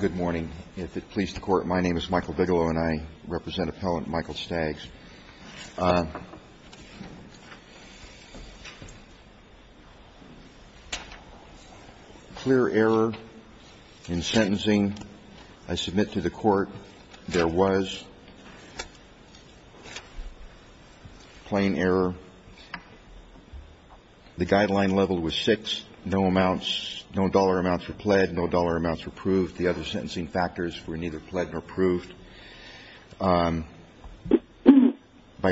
Good morning. If it pleases the Court, my name is Michael Bigelow and I represent Appellant Michael Staggs. Clear error in sentencing. I submit to the Court there was plain error. The guideline level was six. No dollar amounts were pled, no dollar amounts were proved. The other sentencing factors were neither pled nor proved. By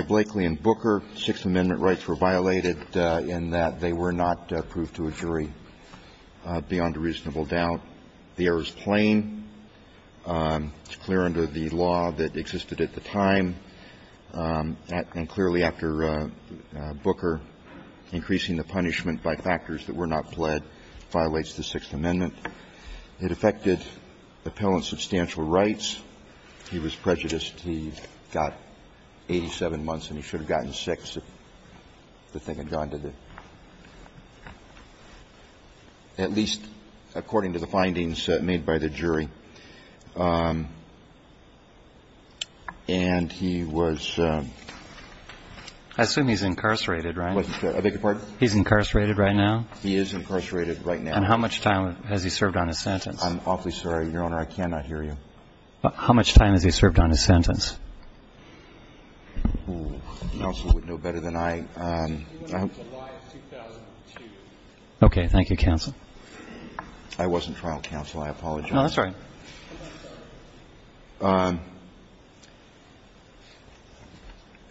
Blakely and Booker, six amendment rights were violated in that they were not proved to a jury beyond a reasonable doubt. The error is plain. It's clear under the law that existed at the time. And clearly, after Booker, increasing the punishment by factors that were not pled violates the Sixth Amendment. It affected Appellant's substantial rights. He was prejudiced. He got 87 months, and he should have gotten six if the thing had gone to the – at least according to the findings made by the jury. And he was – I assume he's incarcerated, right? I beg your pardon? He's incarcerated right now? He is incarcerated right now. And how much time has he served on his sentence? I'm awfully sorry, Your Honor. I cannot hear you. How much time has he served on his sentence? The counsel would know better than I. He went on July 2002. Okay. Thank you, counsel. I wasn't trial counsel. I apologize. No, that's all right.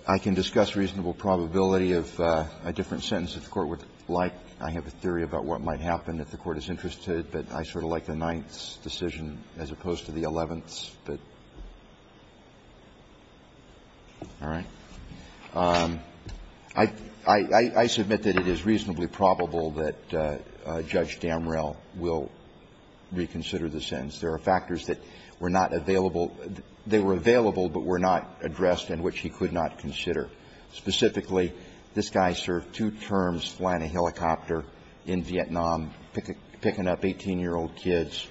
I can discuss reasonable probability of a different sentence if the Court would like. I have a theory about what might happen if the Court is interested, but I sort of like the Ninth's decision as opposed to the Eleventh's. All right. I submit that it is reasonably probable that Judge Damrell will reconsider the sentence. There are factors that were not available. They were available, but were not addressed and which he could not consider. Specifically, this guy served two terms flying a helicopter in Vietnam, picking up 18-year-old kids,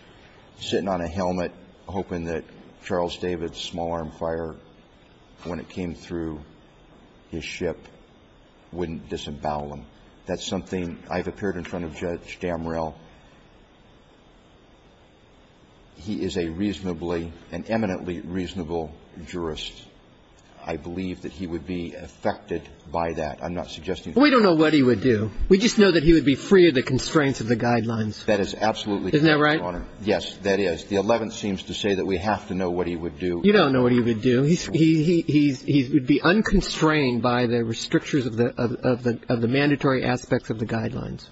sitting on a helmet, hoping that Charles David's small-arm fire, when it came through his ship, wouldn't disembowel him. That's something I've appeared in front of Judge Damrell. He is a reasonably, an eminently reasonable jurist. I believe that he would be affected by that. I'm not suggesting that. We don't know what he would do. We just know that he would be free of the constraints of the Guidelines. That is absolutely correct, Your Honor. Isn't that right? Yes, that is. The Eleventh seems to say that we have to know what he would do. You don't know what he would do. He would be unconstrained by the restrictions of the mandatory aspects of the Guidelines.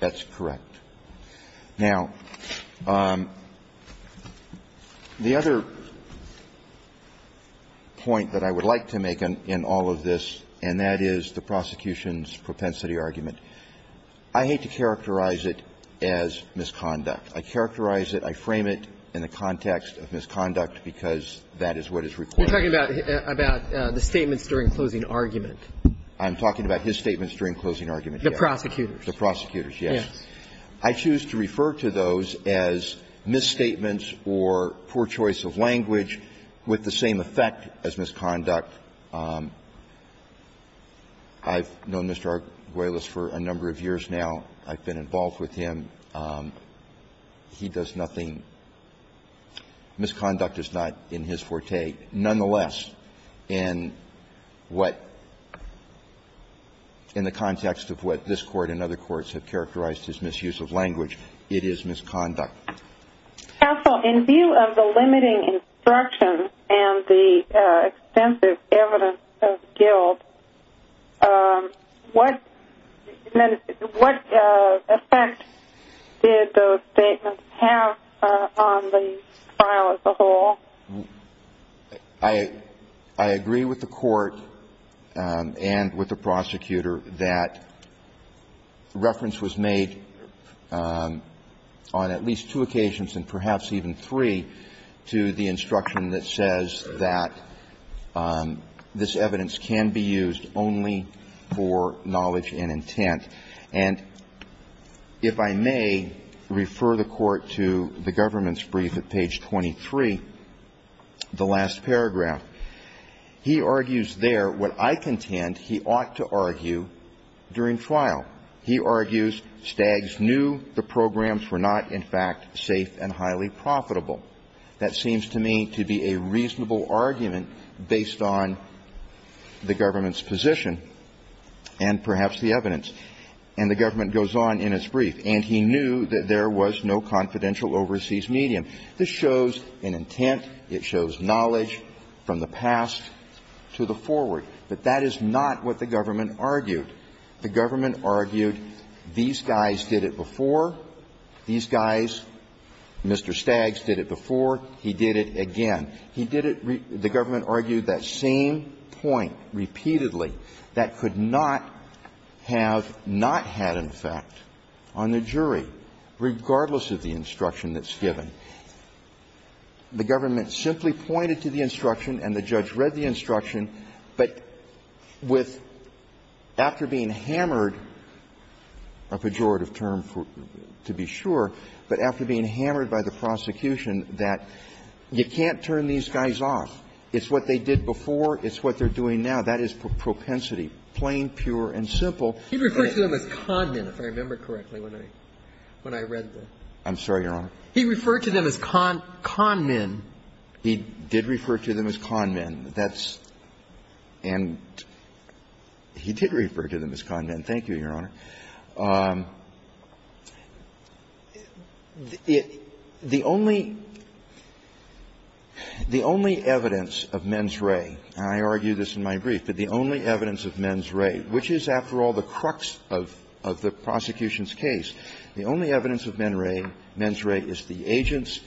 That's correct. Now, the other point that I would like to make in all of this, and that is the prosecution's propensity argument, I hate to characterize it as misconduct. I characterize it, I frame it in the context of misconduct because that is what is required. You're talking about the statements during closing argument. I'm talking about his statements during closing argument, Your Honor. The prosecutors. The prosecutors, yes. Yes. I choose to refer to those as misstatements or poor choice of language with the same effect as misconduct. I've known Mr. Arguelles for a number of years now. I've been involved with him. He does nothing. Misconduct is not in his forte. Nonetheless, in what, in the context of what this Court and other courts have characterized as misuse of language, it is misconduct. Counsel, in view of the limiting instructions and the extensive evidence of guilt, what effect did those statements have on the trial as a whole? I agree with the Court and with the prosecutor that reference was made on at least two occasions and perhaps even three to the instruction that says that this evidence can be used only for knowledge and intent. And if I may refer the Court to the government's brief at page 23, the last paragraph. He argues there what I contend he ought to argue during trial. He argues Staggs knew the programs were not, in fact, safe and highly profitable. That seems to me to be a reasonable argument based on the government's position and perhaps the evidence. And the government goes on in its brief. And he knew that there was no confidential overseas medium. This shows an intent. It shows knowledge from the past to the forward. But that is not what the government argued. The government argued these guys did it before. These guys, Mr. Staggs, did it before. He did it again. He did it the government argued that same point repeatedly that could not have not had, in fact, on the jury, regardless of the instruction that's given. The government simply pointed to the instruction, and the judge read the instruction, but with, after being hammered, a pejorative term to be sure, but after being hammered by the prosecution that you can't turn these guys off. It's what they did before. It's what they're doing now. That is propensity, plain, pure, and simple. He referred to them as con men, if I remember correctly, when I read the ---- I'm sorry, Your Honor. He referred to them as con men. He did refer to them as con men. That's and he did refer to them as con men. Thank you, Your Honor. The only ---- the only evidence of mens rea, and I argue this in my brief, but the only evidence of mens rea, which is, after all, the crux of the prosecution's case, the only evidence of mens rea, mens rea is the agent's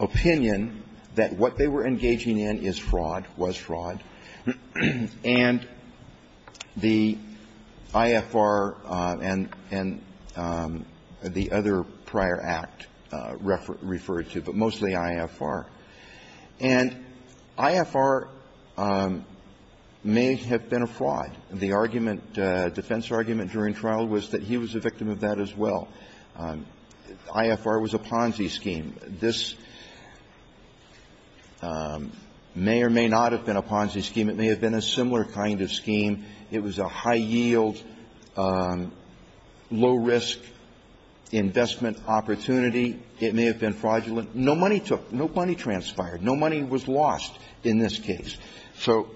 opinion that what they were engaging in is fraud, was fraud, and the evidence of mens rea is the agent's opinion that we get from that reason. If they had an altitude defect, that would include FDI, FDD, IFR, and the other prior act referred to, but mostly IFR. And IFR may have been a fraud. The argument ---- the defense argument during trial was that he was a victim of that as well. IFR was a Ponzi scheme. This may or may not have been a Ponzi scheme. It may have been a similar kind of scheme. It was a high-yield, low-risk investment opportunity. It may have been fraudulent. No money took ---- no money transpired. No money was lost in this case. So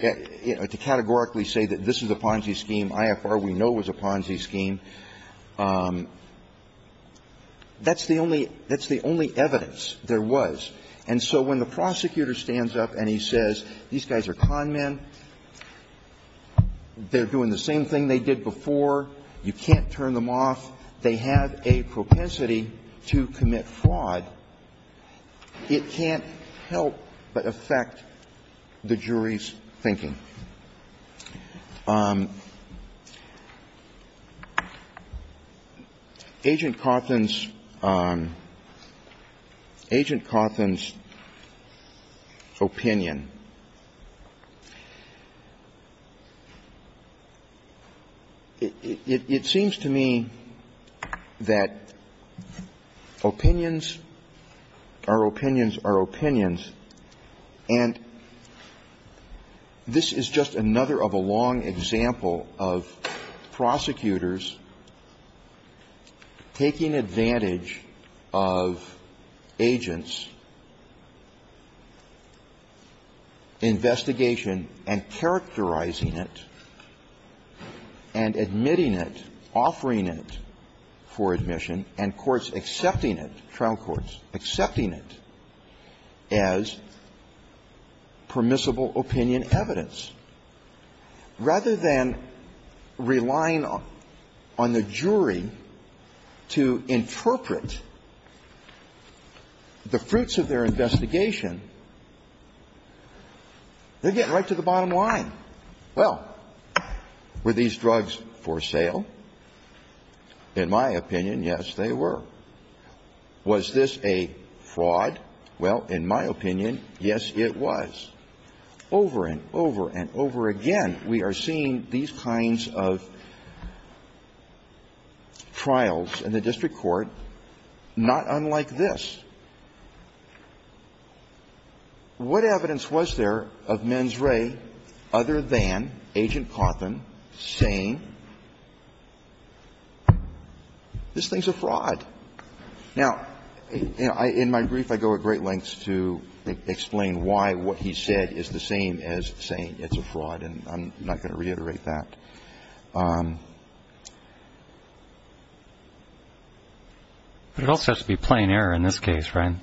to categorically say that this is a Ponzi scheme, IFR we know was a Ponzi scheme. That's the only ---- that's the only evidence there was. And so when the prosecutor stands up and he says, these guys are con men, they're doing the same thing they did before, you can't turn them off, they have a propensity to commit fraud, it can't help but affect the jury's thinking. Now, Agent Cawthon's ---- Agent Cawthon's opinion, it seems to me that opinions are opinions are opinions, and this is a case in which we have to look at what is the This is just another of a long example of prosecutors taking advantage of agents' investigation and characterizing it, and admitting it, offering it for admission, and courts accepting it, trial courts accepting it as permissible opinion evidence. Rather than relying on the jury to interpret the fruits of their investigation, they're getting right to the bottom line. Well, were these drugs for sale? In my opinion, yes, they were. Was this a fraud? Well, in my opinion, yes, it was. Over and over and over again, we are seeing these kinds of trials in the district court not unlike this. What evidence was there of mens rea other than Agent Cawthon saying, this thing's a fraud? Now, in my brief, I go at great lengths to explain why what he said is the same as saying it's a fraud, and I'm not going to reiterate that. But it also has to be plain error in this case, right?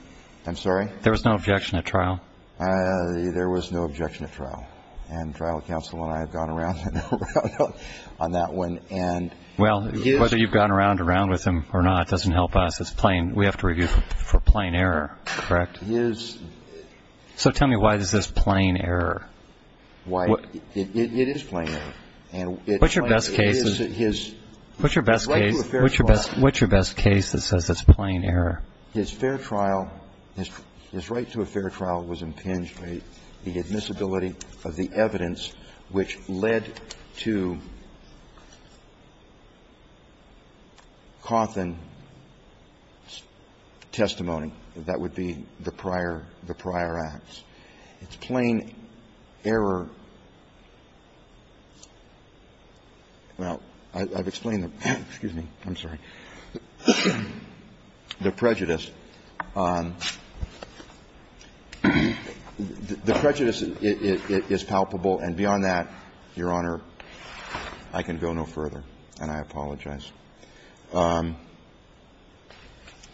I'm sorry? There was no objection at trial? There was no objection at trial, and trial counsel and I have gone around and around on that one. Well, whether you've gone around and around with him or not doesn't help us. It's plain we have to review for plain error, correct? So tell me why is this plain error? It is plain error. What's your best case that says it's plain error? His fair trial, his right to a fair trial was impinged by the admissibility of the evidence which led to Cawthon's testimony. That would be the prior act. It's plain error. Well, I've explained the prejudice. The prejudice is palpable, and beyond that, Your Honor, I can go no further, and I apologize.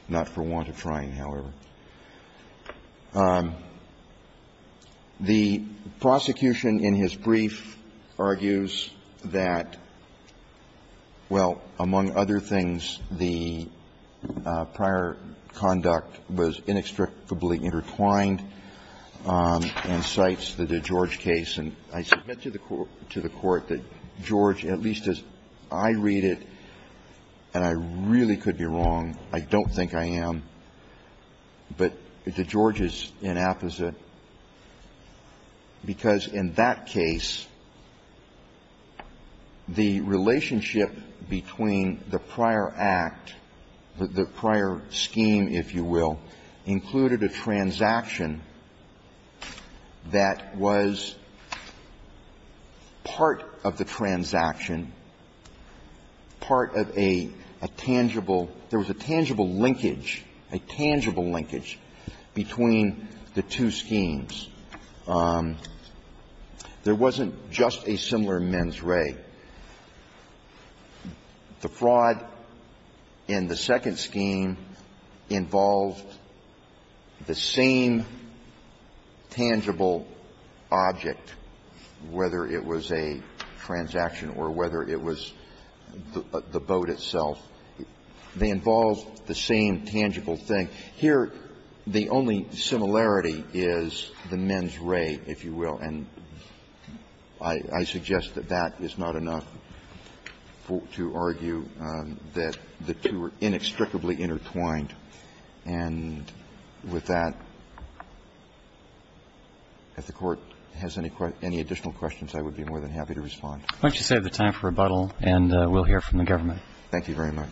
Not for want of trying, however. The prosecution in his brief argues that, well, among other things, the prior conduct was inextricably intertwined and cites the DeGeorge case. And I submit to the Court that George, at least as I read it, and I really could be wrong, I don't think I am, but DeGeorge is inapposite, because in that case, the DeGeorge case, if you will, included a transaction that was part of the transaction, part of a tangible – there was a tangible linkage, a tangible linkage between the two schemes. There wasn't just a similar mens re. The fraud in the second scheme involved the same tangible object, whether it was a transaction or whether it was the boat itself. They involved the same tangible thing. Here, the only similarity is the mens re, if you will, and I suggest that that is not enough to argue that the two were inextricably intertwined. And with that, if the Court has any additional questions, I would be more than happy to respond. I'd like to save the time for rebuttal, and we'll hear from the government. Thank you very much.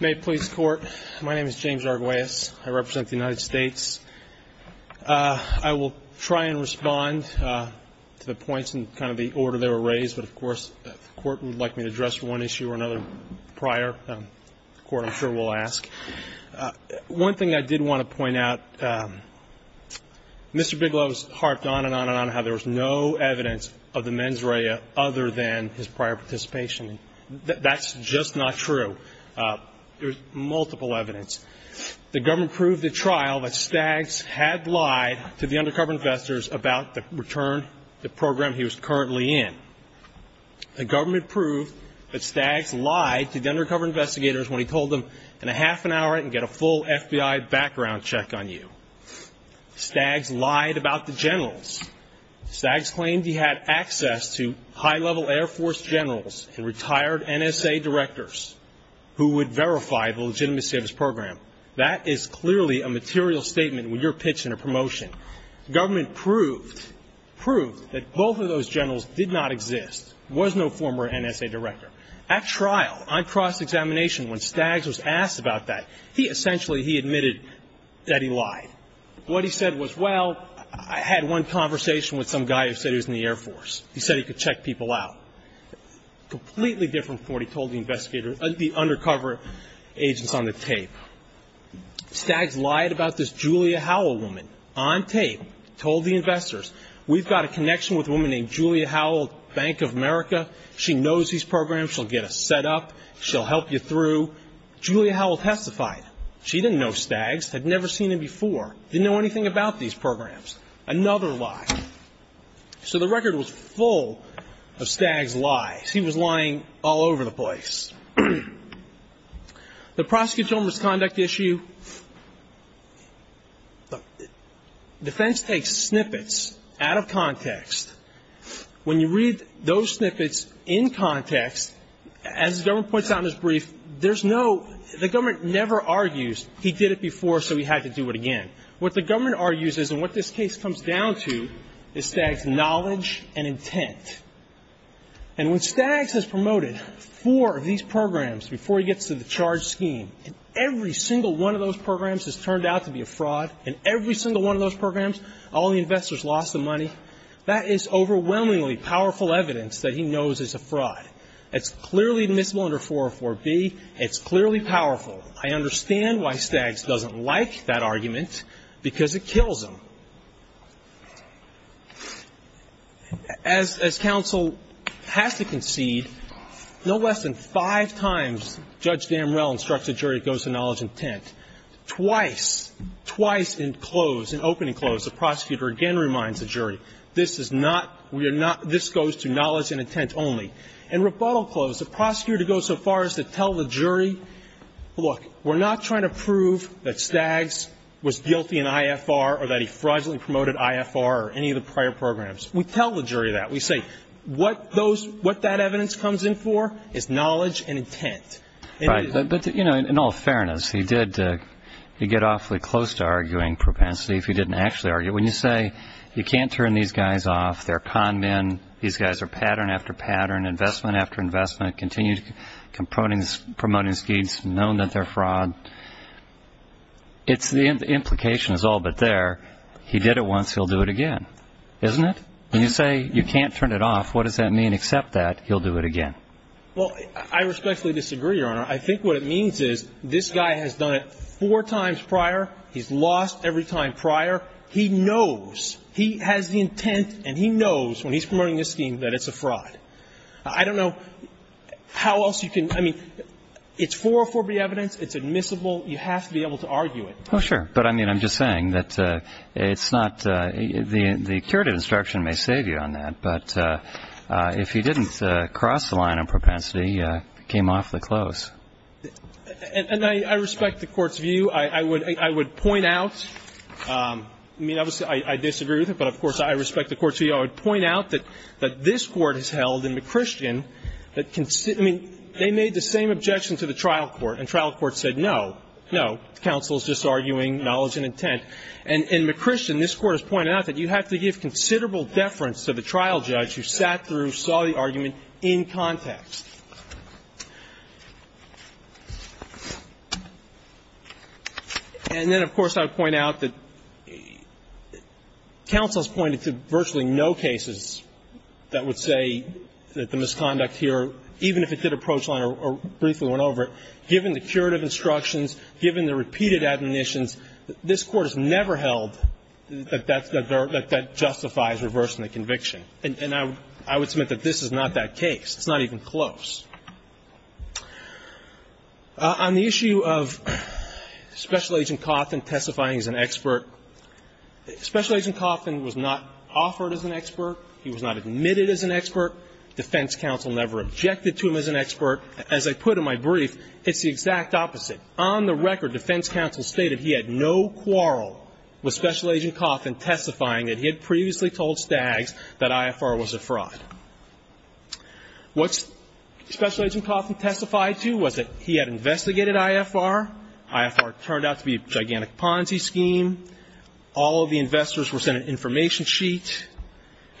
May it please the Court. My name is James Arguelles. I represent the United States. I will try and respond to the points and kind of the order they were raised, but, of course, if the Court would like me to address one issue or another prior, the Court, I'm sure, will ask. One thing I did want to point out, Mr. Bigelow has harped on and on and on how there was no evidence of the mens re other than his prior participation. That's just not true. There's multiple evidence. The government proved at trial that Staggs had lied to the undercover investigators about the return, the program he was currently in. The government proved that Staggs lied to the undercover investigators when he told them, in a half an hour, I can get a full FBI background check on you. Staggs lied about the generals. Staggs claimed he had access to high-level Air Force generals and retired NSA directors who would verify the legitimacy of his program. That is clearly a material statement when you're pitching a promotion. Government proved that both of those generals did not exist, was no former NSA director. At trial, on cross-examination, when Staggs was asked about that, he essentially, he admitted that he lied. What he said was, well, I had one conversation with some guy who said he was in the Air Force. He said he could check people out. Completely different from what he told the investigators, the undercover agents on the tape. Staggs lied about this Julia Howell woman, on tape, told the investors, we've got a connection with a woman named Julia Howell, Bank of America. She knows these programs, she'll get us set up, she'll help you through. Julia Howell testified. She didn't know Staggs, had never seen him before, didn't know anything about these programs. Another lie. So the record was full of Staggs lies. He was lying all over the place. The prosecutorial misconduct issue, the defense takes snippets out of context. When you read those snippets in context, as the government puts out in his brief, there's no, the government never argues he did it before so he had to do it again. What the government argues is, and what this case comes down to, is Staggs' knowledge and intent. And when Staggs has promoted four of these programs before he gets to the charge scheme, every single one of those programs has turned out to be a fraud, and every single one of those programs, all the investors lost the money. That is overwhelmingly powerful evidence that he knows is a fraud. It's clearly admissible under 404B. It's clearly powerful. I understand why Staggs doesn't like that argument because it kills him. As counsel has to concede, no less than five times Judge Damrell instructs a jury to go so far as to tell the jury, look, we're not trying to prove that Staggs was guilty in IFR or that he fraudulently promoted IFR or any of the prior programs. We tell the jury that. We say, what those, what that evidence comes in for is knowledge and intent. Right. Well, I respectfully disagree, Your Honor. I think what it means is this guy has done it four times prior. He's lost every time prior. He knows. He has the intent and he knows when he's promoting this scheme that it's a fraud. I don't know how else you can, I mean, it's 404B evidence. It's admissible. You have to be able to argue it. Well, sure. But, I mean, I'm just saying that it's not, the curative instruction may save you on that. But if you didn't cross the line on propensity, you came off the close. And I respect the Court's view. I would point out, I mean, obviously, I disagree with it, but, of course, I respect the Court's view. I would point out that this Court has held in McChristian that, I mean, they made the same objection to the trial court. And trial court said no, no, counsel is just arguing knowledge and intent. And in McChristian, this Court has pointed out that you have to give considerable deference to the trial judge who sat through, saw the argument in context. And then, of course, I would point out that counsel has pointed to virtually no cases that would say that the misconduct here, even if it did approach line or briefly went over it, given the curative instructions, given the repeated admonitions, this Court has never held that that justifies reversing the conviction. And I would submit that this is not that case. It's not even close. On the issue of Special Agent Cawthon testifying as an expert, Special Agent Cawthon was not offered as an expert. He was not admitted as an expert. Defense counsel never objected to him as an expert. As I put in my brief, it's the exact opposite. On the record, defense counsel stated he had no quarrel with Special Agent Cawthon testifying that he had previously told Staggs that IFR was a fraud. What Special Agent Cawthon testified to was that he had investigated IFR. IFR turned out to be a gigantic Ponzi scheme. All of the investors were sent an information sheet.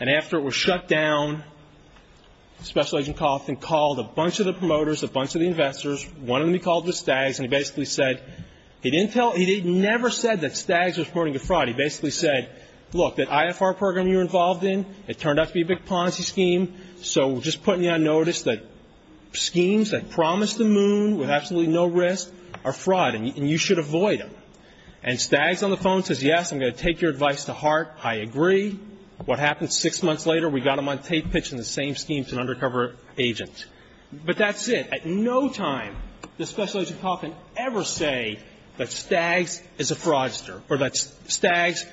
And after it was shut down, Special Agent Cawthon called a bunch of the promoters, a bunch of the investors, one of them he called was Staggs, and he basically said he never said that Staggs was reporting a fraud. He basically said, look, that IFR program you're involved in, it turned out to be a big Ponzi scheme, so we're just putting you on notice that schemes that promise the moon with absolutely no risk are fraud, and you should avoid them. And Staggs on the phone says, yes, I'm going to take your advice to heart. I agree. What happened six months later, we got him on tape pitching the same scheme to an undercover agent. But that's it. At no time does Special Agent Cawthon ever say that Staggs is a fraudster or that Staggs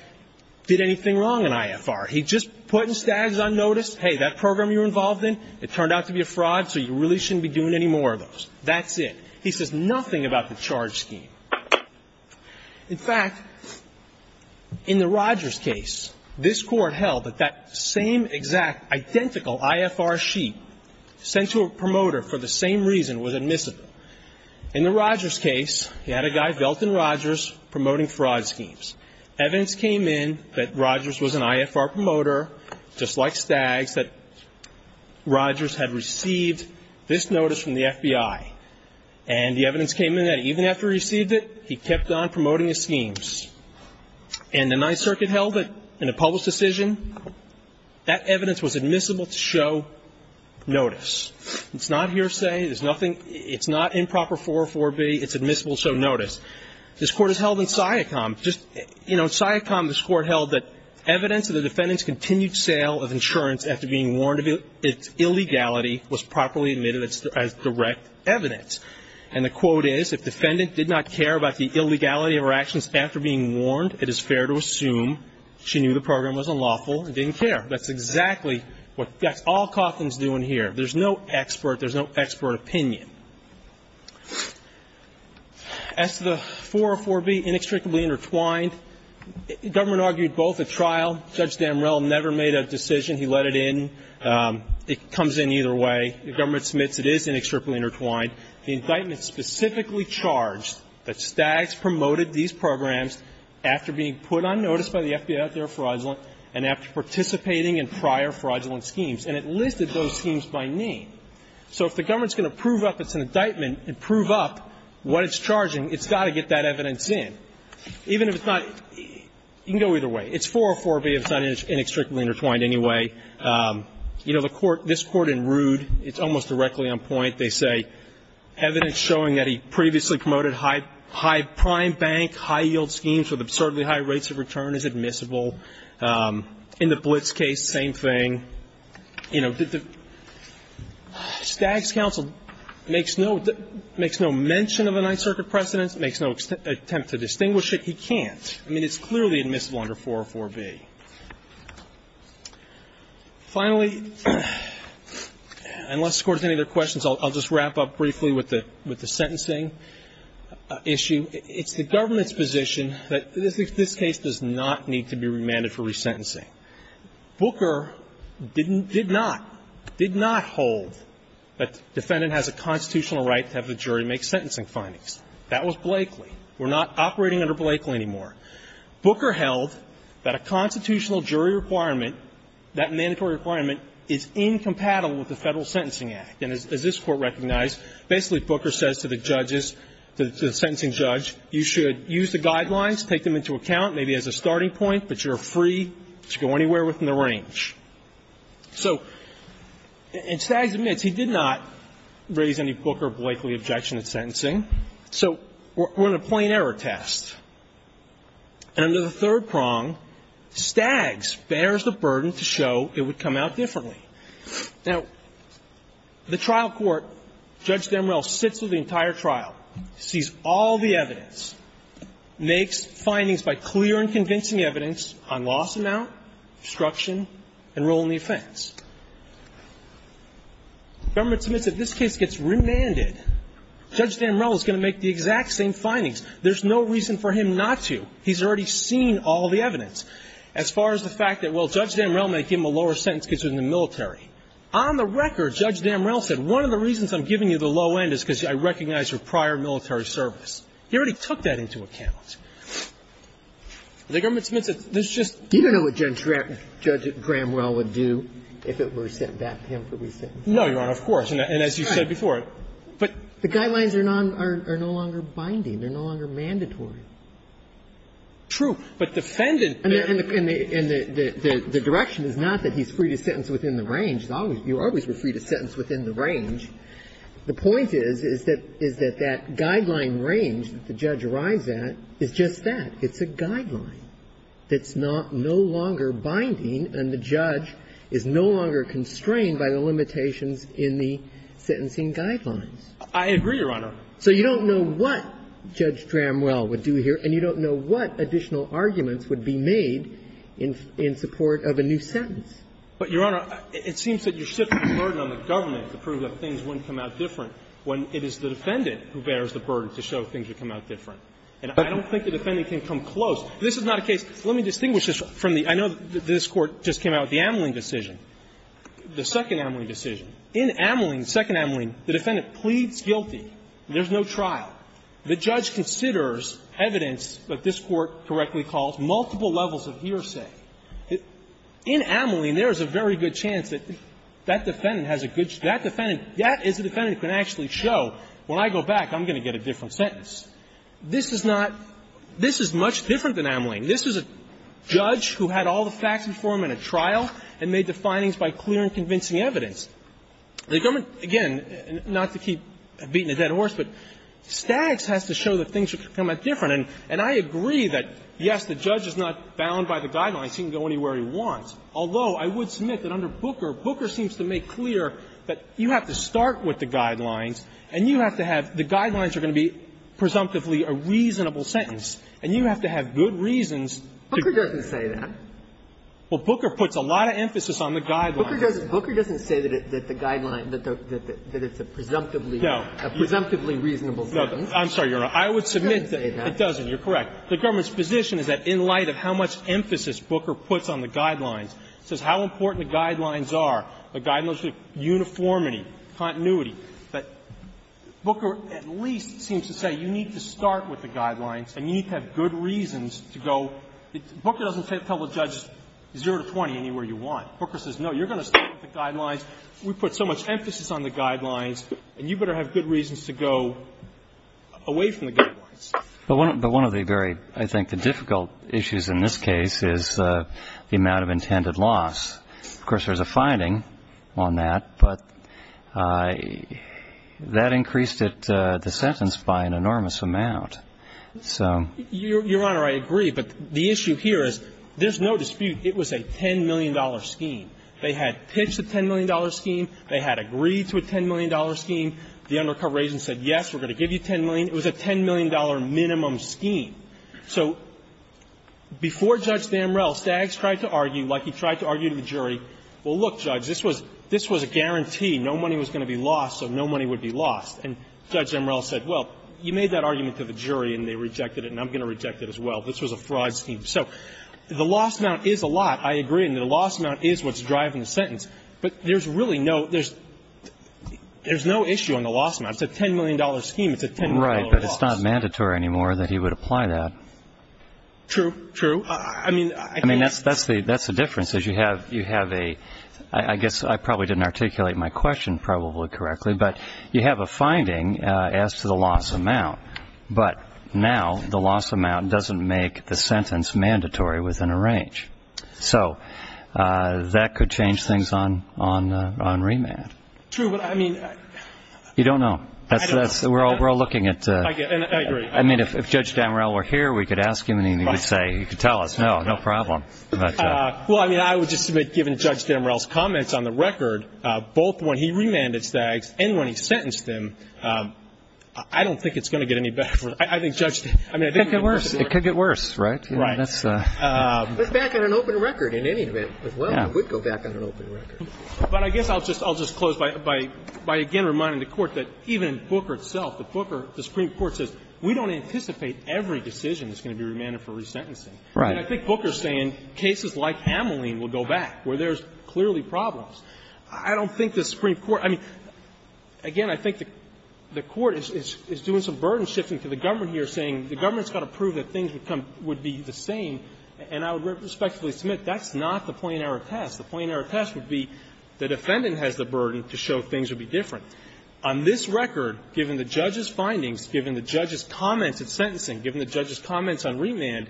did anything wrong in IFR. He just put in Staggs on notice, hey, that program you're involved in, it turned out to be a fraud, so you really shouldn't be doing any more of those. That's it. He says nothing about the charge scheme. In fact, in the Rogers case, this Court held that that same exact identical IFR sheet sent to a promoter for the same reason was admissible. In the Rogers case, you had a guy, Velton Rogers, promoting fraud schemes. Evidence came in that Rogers was an IFR promoter, just like Staggs, And the evidence came in that even after he received it, he kept on promoting his schemes. And the Ninth Circuit held that in a public decision, that evidence was admissible to show notice. It's not hearsay. There's nothing – it's not improper 404B. It's admissible to show notice. This Court has held in SIACOM, just – you know, in SIACOM, this Court held that evidence of the defendant's And the quote is, if defendant did not care about the illegality of her actions after being warned, it is fair to assume she knew the program was unlawful and didn't care. That's exactly what – that's all Coughlin's doing here. There's no expert – there's no expert opinion. As to the 404B, inextricably intertwined, government argued both at trial. Judge Damrell never made a decision. He let it in. It comes in either way. The government submits it is inextricably intertwined. The indictment specifically charged that Staggs promoted these programs after being put on notice by the FBI out there fraudulent and after participating in prior fraudulent schemes, and it listed those schemes by name. So if the government's going to prove up it's an indictment and prove up what it's charging, it's got to get that evidence in. Even if it's not – you can go either way. It's 404B. It's not inextricably intertwined anyway. You know, the Court – this Court in Rood, it's almost directly on point, they say evidence showing that he previously promoted high – high prime bank, high yield schemes with absurdly high rates of return is admissible. In the Blitz case, same thing. You know, did the – Staggs' counsel makes no – makes no mention of the Ninth Circuit precedents, makes no attempt to distinguish it. He can't. I mean, it's clearly admissible under 404B. Finally, unless the Court has any other questions, I'll just wrap up briefly with the – with the sentencing issue. It's the government's position that this case does not need to be remanded for resentencing. Booker didn't – did not, did not hold that defendant has a constitutional right to have the jury make sentencing findings. That was Blakeley. We're not operating under Blakeley anymore. Booker held that a constitutional jury requirement, that mandatory requirement, is incompatible with the Federal Sentencing Act. And as this Court recognized, basically Booker says to the judges, to the sentencing judge, you should use the guidelines, take them into account, maybe as a starting point, but you're free to go anywhere within the range. So – and Staggs admits he did not raise any Booker-Blakeley objection to sentencing. So we're in a plain error test. And under the third prong, Staggs bears the burden to show it would come out differently. Now, the trial court, Judge Damrell sits with the entire trial, sees all the evidence, makes findings by clear and convincing evidence on loss amount, obstruction, and rule in the offense. The government submits that this case gets remanded. There's no reason for him not to. He's already seen all the evidence. As far as the fact that, well, Judge Damrell may give him a lower sentence considering the military. On the record, Judge Damrell said one of the reasons I'm giving you the low end is because I recognize your prior military service. He already took that into account. The government submits it. There's just — You don't know what Judge Grahamrell would do if it were sent back to him for resentment. No, Your Honor, of course. And as you said before, but — But he's no longer mandatory. True. But defendant — And the direction is not that he's free to sentence within the range. You always were free to sentence within the range. The point is, is that that guideline range that the judge arrives at is just that. It's a guideline that's no longer binding, and the judge is no longer constrained by the limitations in the sentencing guidelines. I agree, Your Honor. So you don't know what Judge Grahamrell would do here, and you don't know what additional arguments would be made in support of a new sentence. But, Your Honor, it seems that you're shifting the burden on the government to prove that things wouldn't come out different when it is the defendant who bears the burden to show things would come out different. And I don't think the defendant can come close. This is not a case — let me distinguish this from the — I know this Court just came out with the Ameling decision, the second Ameling decision. In Ameling, the second Ameling, the defendant pleads guilty. There's no trial. The judge considers evidence that this Court correctly calls multiple levels of hearsay. In Ameling, there is a very good chance that that defendant has a good — that defendant — that is a defendant who can actually show, when I go back, I'm going to get a different sentence. This is not — this is much different than Ameling. This is a judge who had all the facts before him in a trial and made the findings by clear and convincing evidence. The government, again, not to keep beating a dead horse, but Staggs has to show that things would come out different. And I agree that, yes, the judge is not bound by the guidelines. He can go anywhere he wants. Although, I would submit that under Booker, Booker seems to make clear that you have to start with the guidelines and you have to have — the guidelines are going to be presumptively a reasonable sentence. And you have to have good reasons to — Booker doesn't say that. Well, Booker puts a lot of emphasis on the guidelines. Booker doesn't — Booker doesn't say that the guidelines — that it's a presumptively — No. A presumptively reasonable sentence. I'm sorry, Your Honor. I would submit that it doesn't. You're correct. The government's position is that in light of how much emphasis Booker puts on the guidelines, says how important the guidelines are, the guidelines of uniformity, continuity, that Booker at least seems to say you need to start with the guidelines and you need to have good reasons to go — Booker doesn't tell the judge zero to 20 anywhere you want. Booker says, no, you're going to start with the guidelines. We put so much emphasis on the guidelines and you better have good reasons to go away from the guidelines. But one of the very, I think, the difficult issues in this case is the amount of intended loss. Of course, there's a finding on that, but that increased it, the sentence, by an enormous amount. So — Your Honor, I agree. But the issue here is there's no dispute it was a $10 million scheme. They had pitched a $10 million scheme. They had agreed to a $10 million scheme. The undercover agent said, yes, we're going to give you $10 million. It was a $10 million minimum scheme. So before Judge Damrell, Staggs tried to argue, like he tried to argue to the jury, well, look, Judge, this was — this was a guarantee. No money was going to be lost, so no money would be lost. And Judge Damrell said, well, you made that argument to the jury and they rejected it and I'm going to reject it as well. This was a fraud scheme. So the loss amount is a lot. I agree. And the loss amount is what's driving the sentence. But there's really no — there's no issue on the loss amount. It's a $10 million scheme. It's a $10 million loss. Right. But it's not mandatory anymore that he would apply that. True. True. I mean — I mean, that's the difference, is you have a — I guess I probably didn't articulate my question probably correctly, but you have a finding as to the loss amount. But now the loss amount doesn't make the sentence mandatory within a range. So that could change things on remand. True. But, I mean — You don't know. I don't know. We're all looking at — I agree. I mean, if Judge Damrell were here, we could ask him and he would say, he could tell us, no, no problem. Well, I mean, I would just submit, given Judge Damrell's comments on the record, both when he remanded Staggs and when he sentenced him, I don't think it's going to get any better. I think Judge — It could get worse. It could get worse, right? Right. That's — Let's back on an open record in any event, as well. Yeah. We'd go back on an open record. But I guess I'll just close by again reminding the Court that even Booker itself, the Supreme Court says, we don't anticipate every decision is going to be remanded for resentencing. Right. And I think Booker's saying cases like Ameline will go back, where there's clearly problems. I don't think the Supreme Court — I mean, again, I think the Court is doing some burden shifting to the government here, saying the government's got to prove that things would come — would be the same, and I would respectfully submit that's not the point of our test. The point of our test would be the defendant has the burden to show things would be different. On this record, given the judge's findings, given the judge's comments at sentencing, given the judge's comments on remand,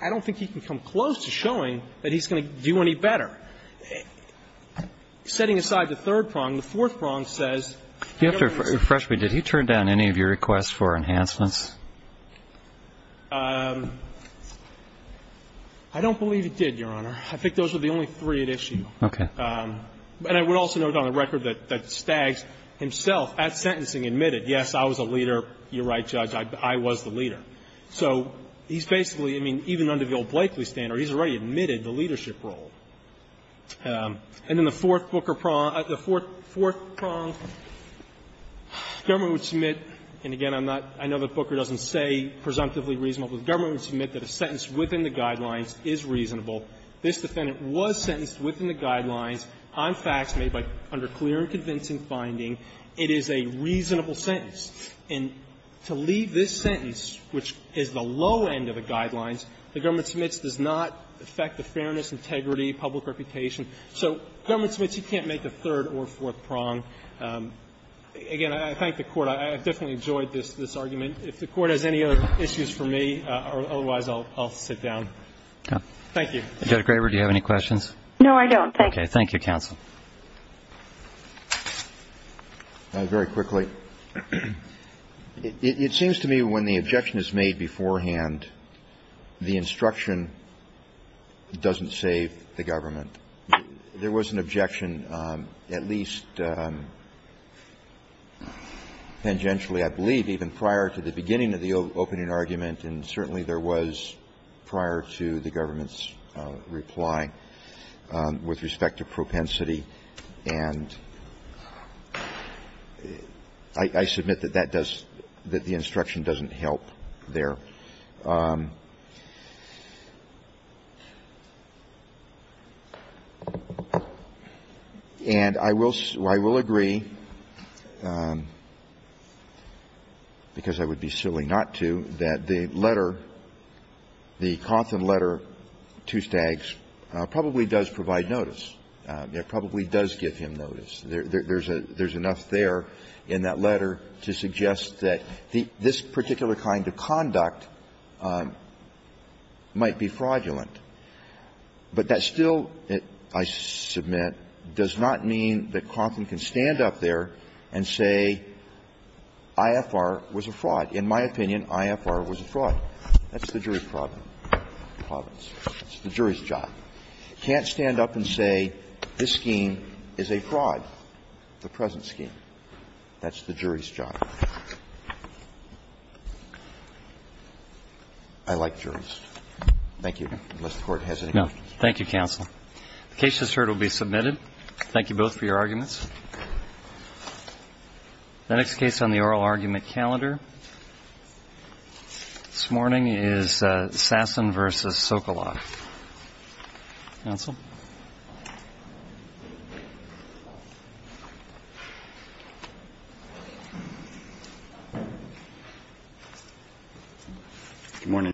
I don't think he can come close to showing that he's going to do any better. Setting aside the third prong, the fourth prong says — You have to refresh me. Did he turn down any of your requests for enhancements? I don't believe he did, Your Honor. I think those are the only three at issue. Okay. And I would also note on the record that Staggs himself at sentencing admitted, yes, I was a leader. You're right, Judge. I was the leader. So he's basically — I mean, even under the old Blakeley standard, he's already admitted the leadership role. And then the fourth Booker prong — the fourth prong, government would submit — and again, I'm not — I know that Booker doesn't say presumptively reasonable, but the government would submit that a sentence within the Guidelines is reasonable. This defendant was sentenced within the Guidelines on facts made by — under clear and convincing finding. It is a reasonable sentence. And to leave this sentence, which is the low end of the Guidelines, the government submits does not affect the fairness, integrity, public reputation. So government submits, you can't make the third or fourth prong. Again, I thank the Court. I definitely enjoyed this argument. If the Court has any other issues for me, or otherwise, I'll sit down. Thank you. Judge Graber, do you have any questions? No, I don't. Thank you, counsel. Very quickly. It seems to me when the objection is made beforehand, the instruction doesn't save the government. There was an objection at least tangentially, I believe, even prior to the beginning of the opening argument, and certainly there was prior to the government's reply with respect to propensity. And I submit that that does — that the instruction doesn't help there. And I will — I will agree, because I would be silly not to, that the letter, the notice, probably does provide notice. It probably does give him notice. There's a — there's enough there in that letter to suggest that this particular kind of conduct might be fraudulent. But that still, I submit, does not mean that Crofton can stand up there and say IFR was a fraud. In my opinion, IFR was a fraud. That's the jury's problem, province. That's the jury's job. Can't stand up and say this scheme is a fraud, the present scheme. That's the jury's job. I like juries. Thank you. Unless the Court has any questions. Thank you, counsel. The case just heard will be submitted. Thank you both for your arguments. The next case on the oral argument calendar this morning is Sasson v. Sokoloff. Counsel. Good morning.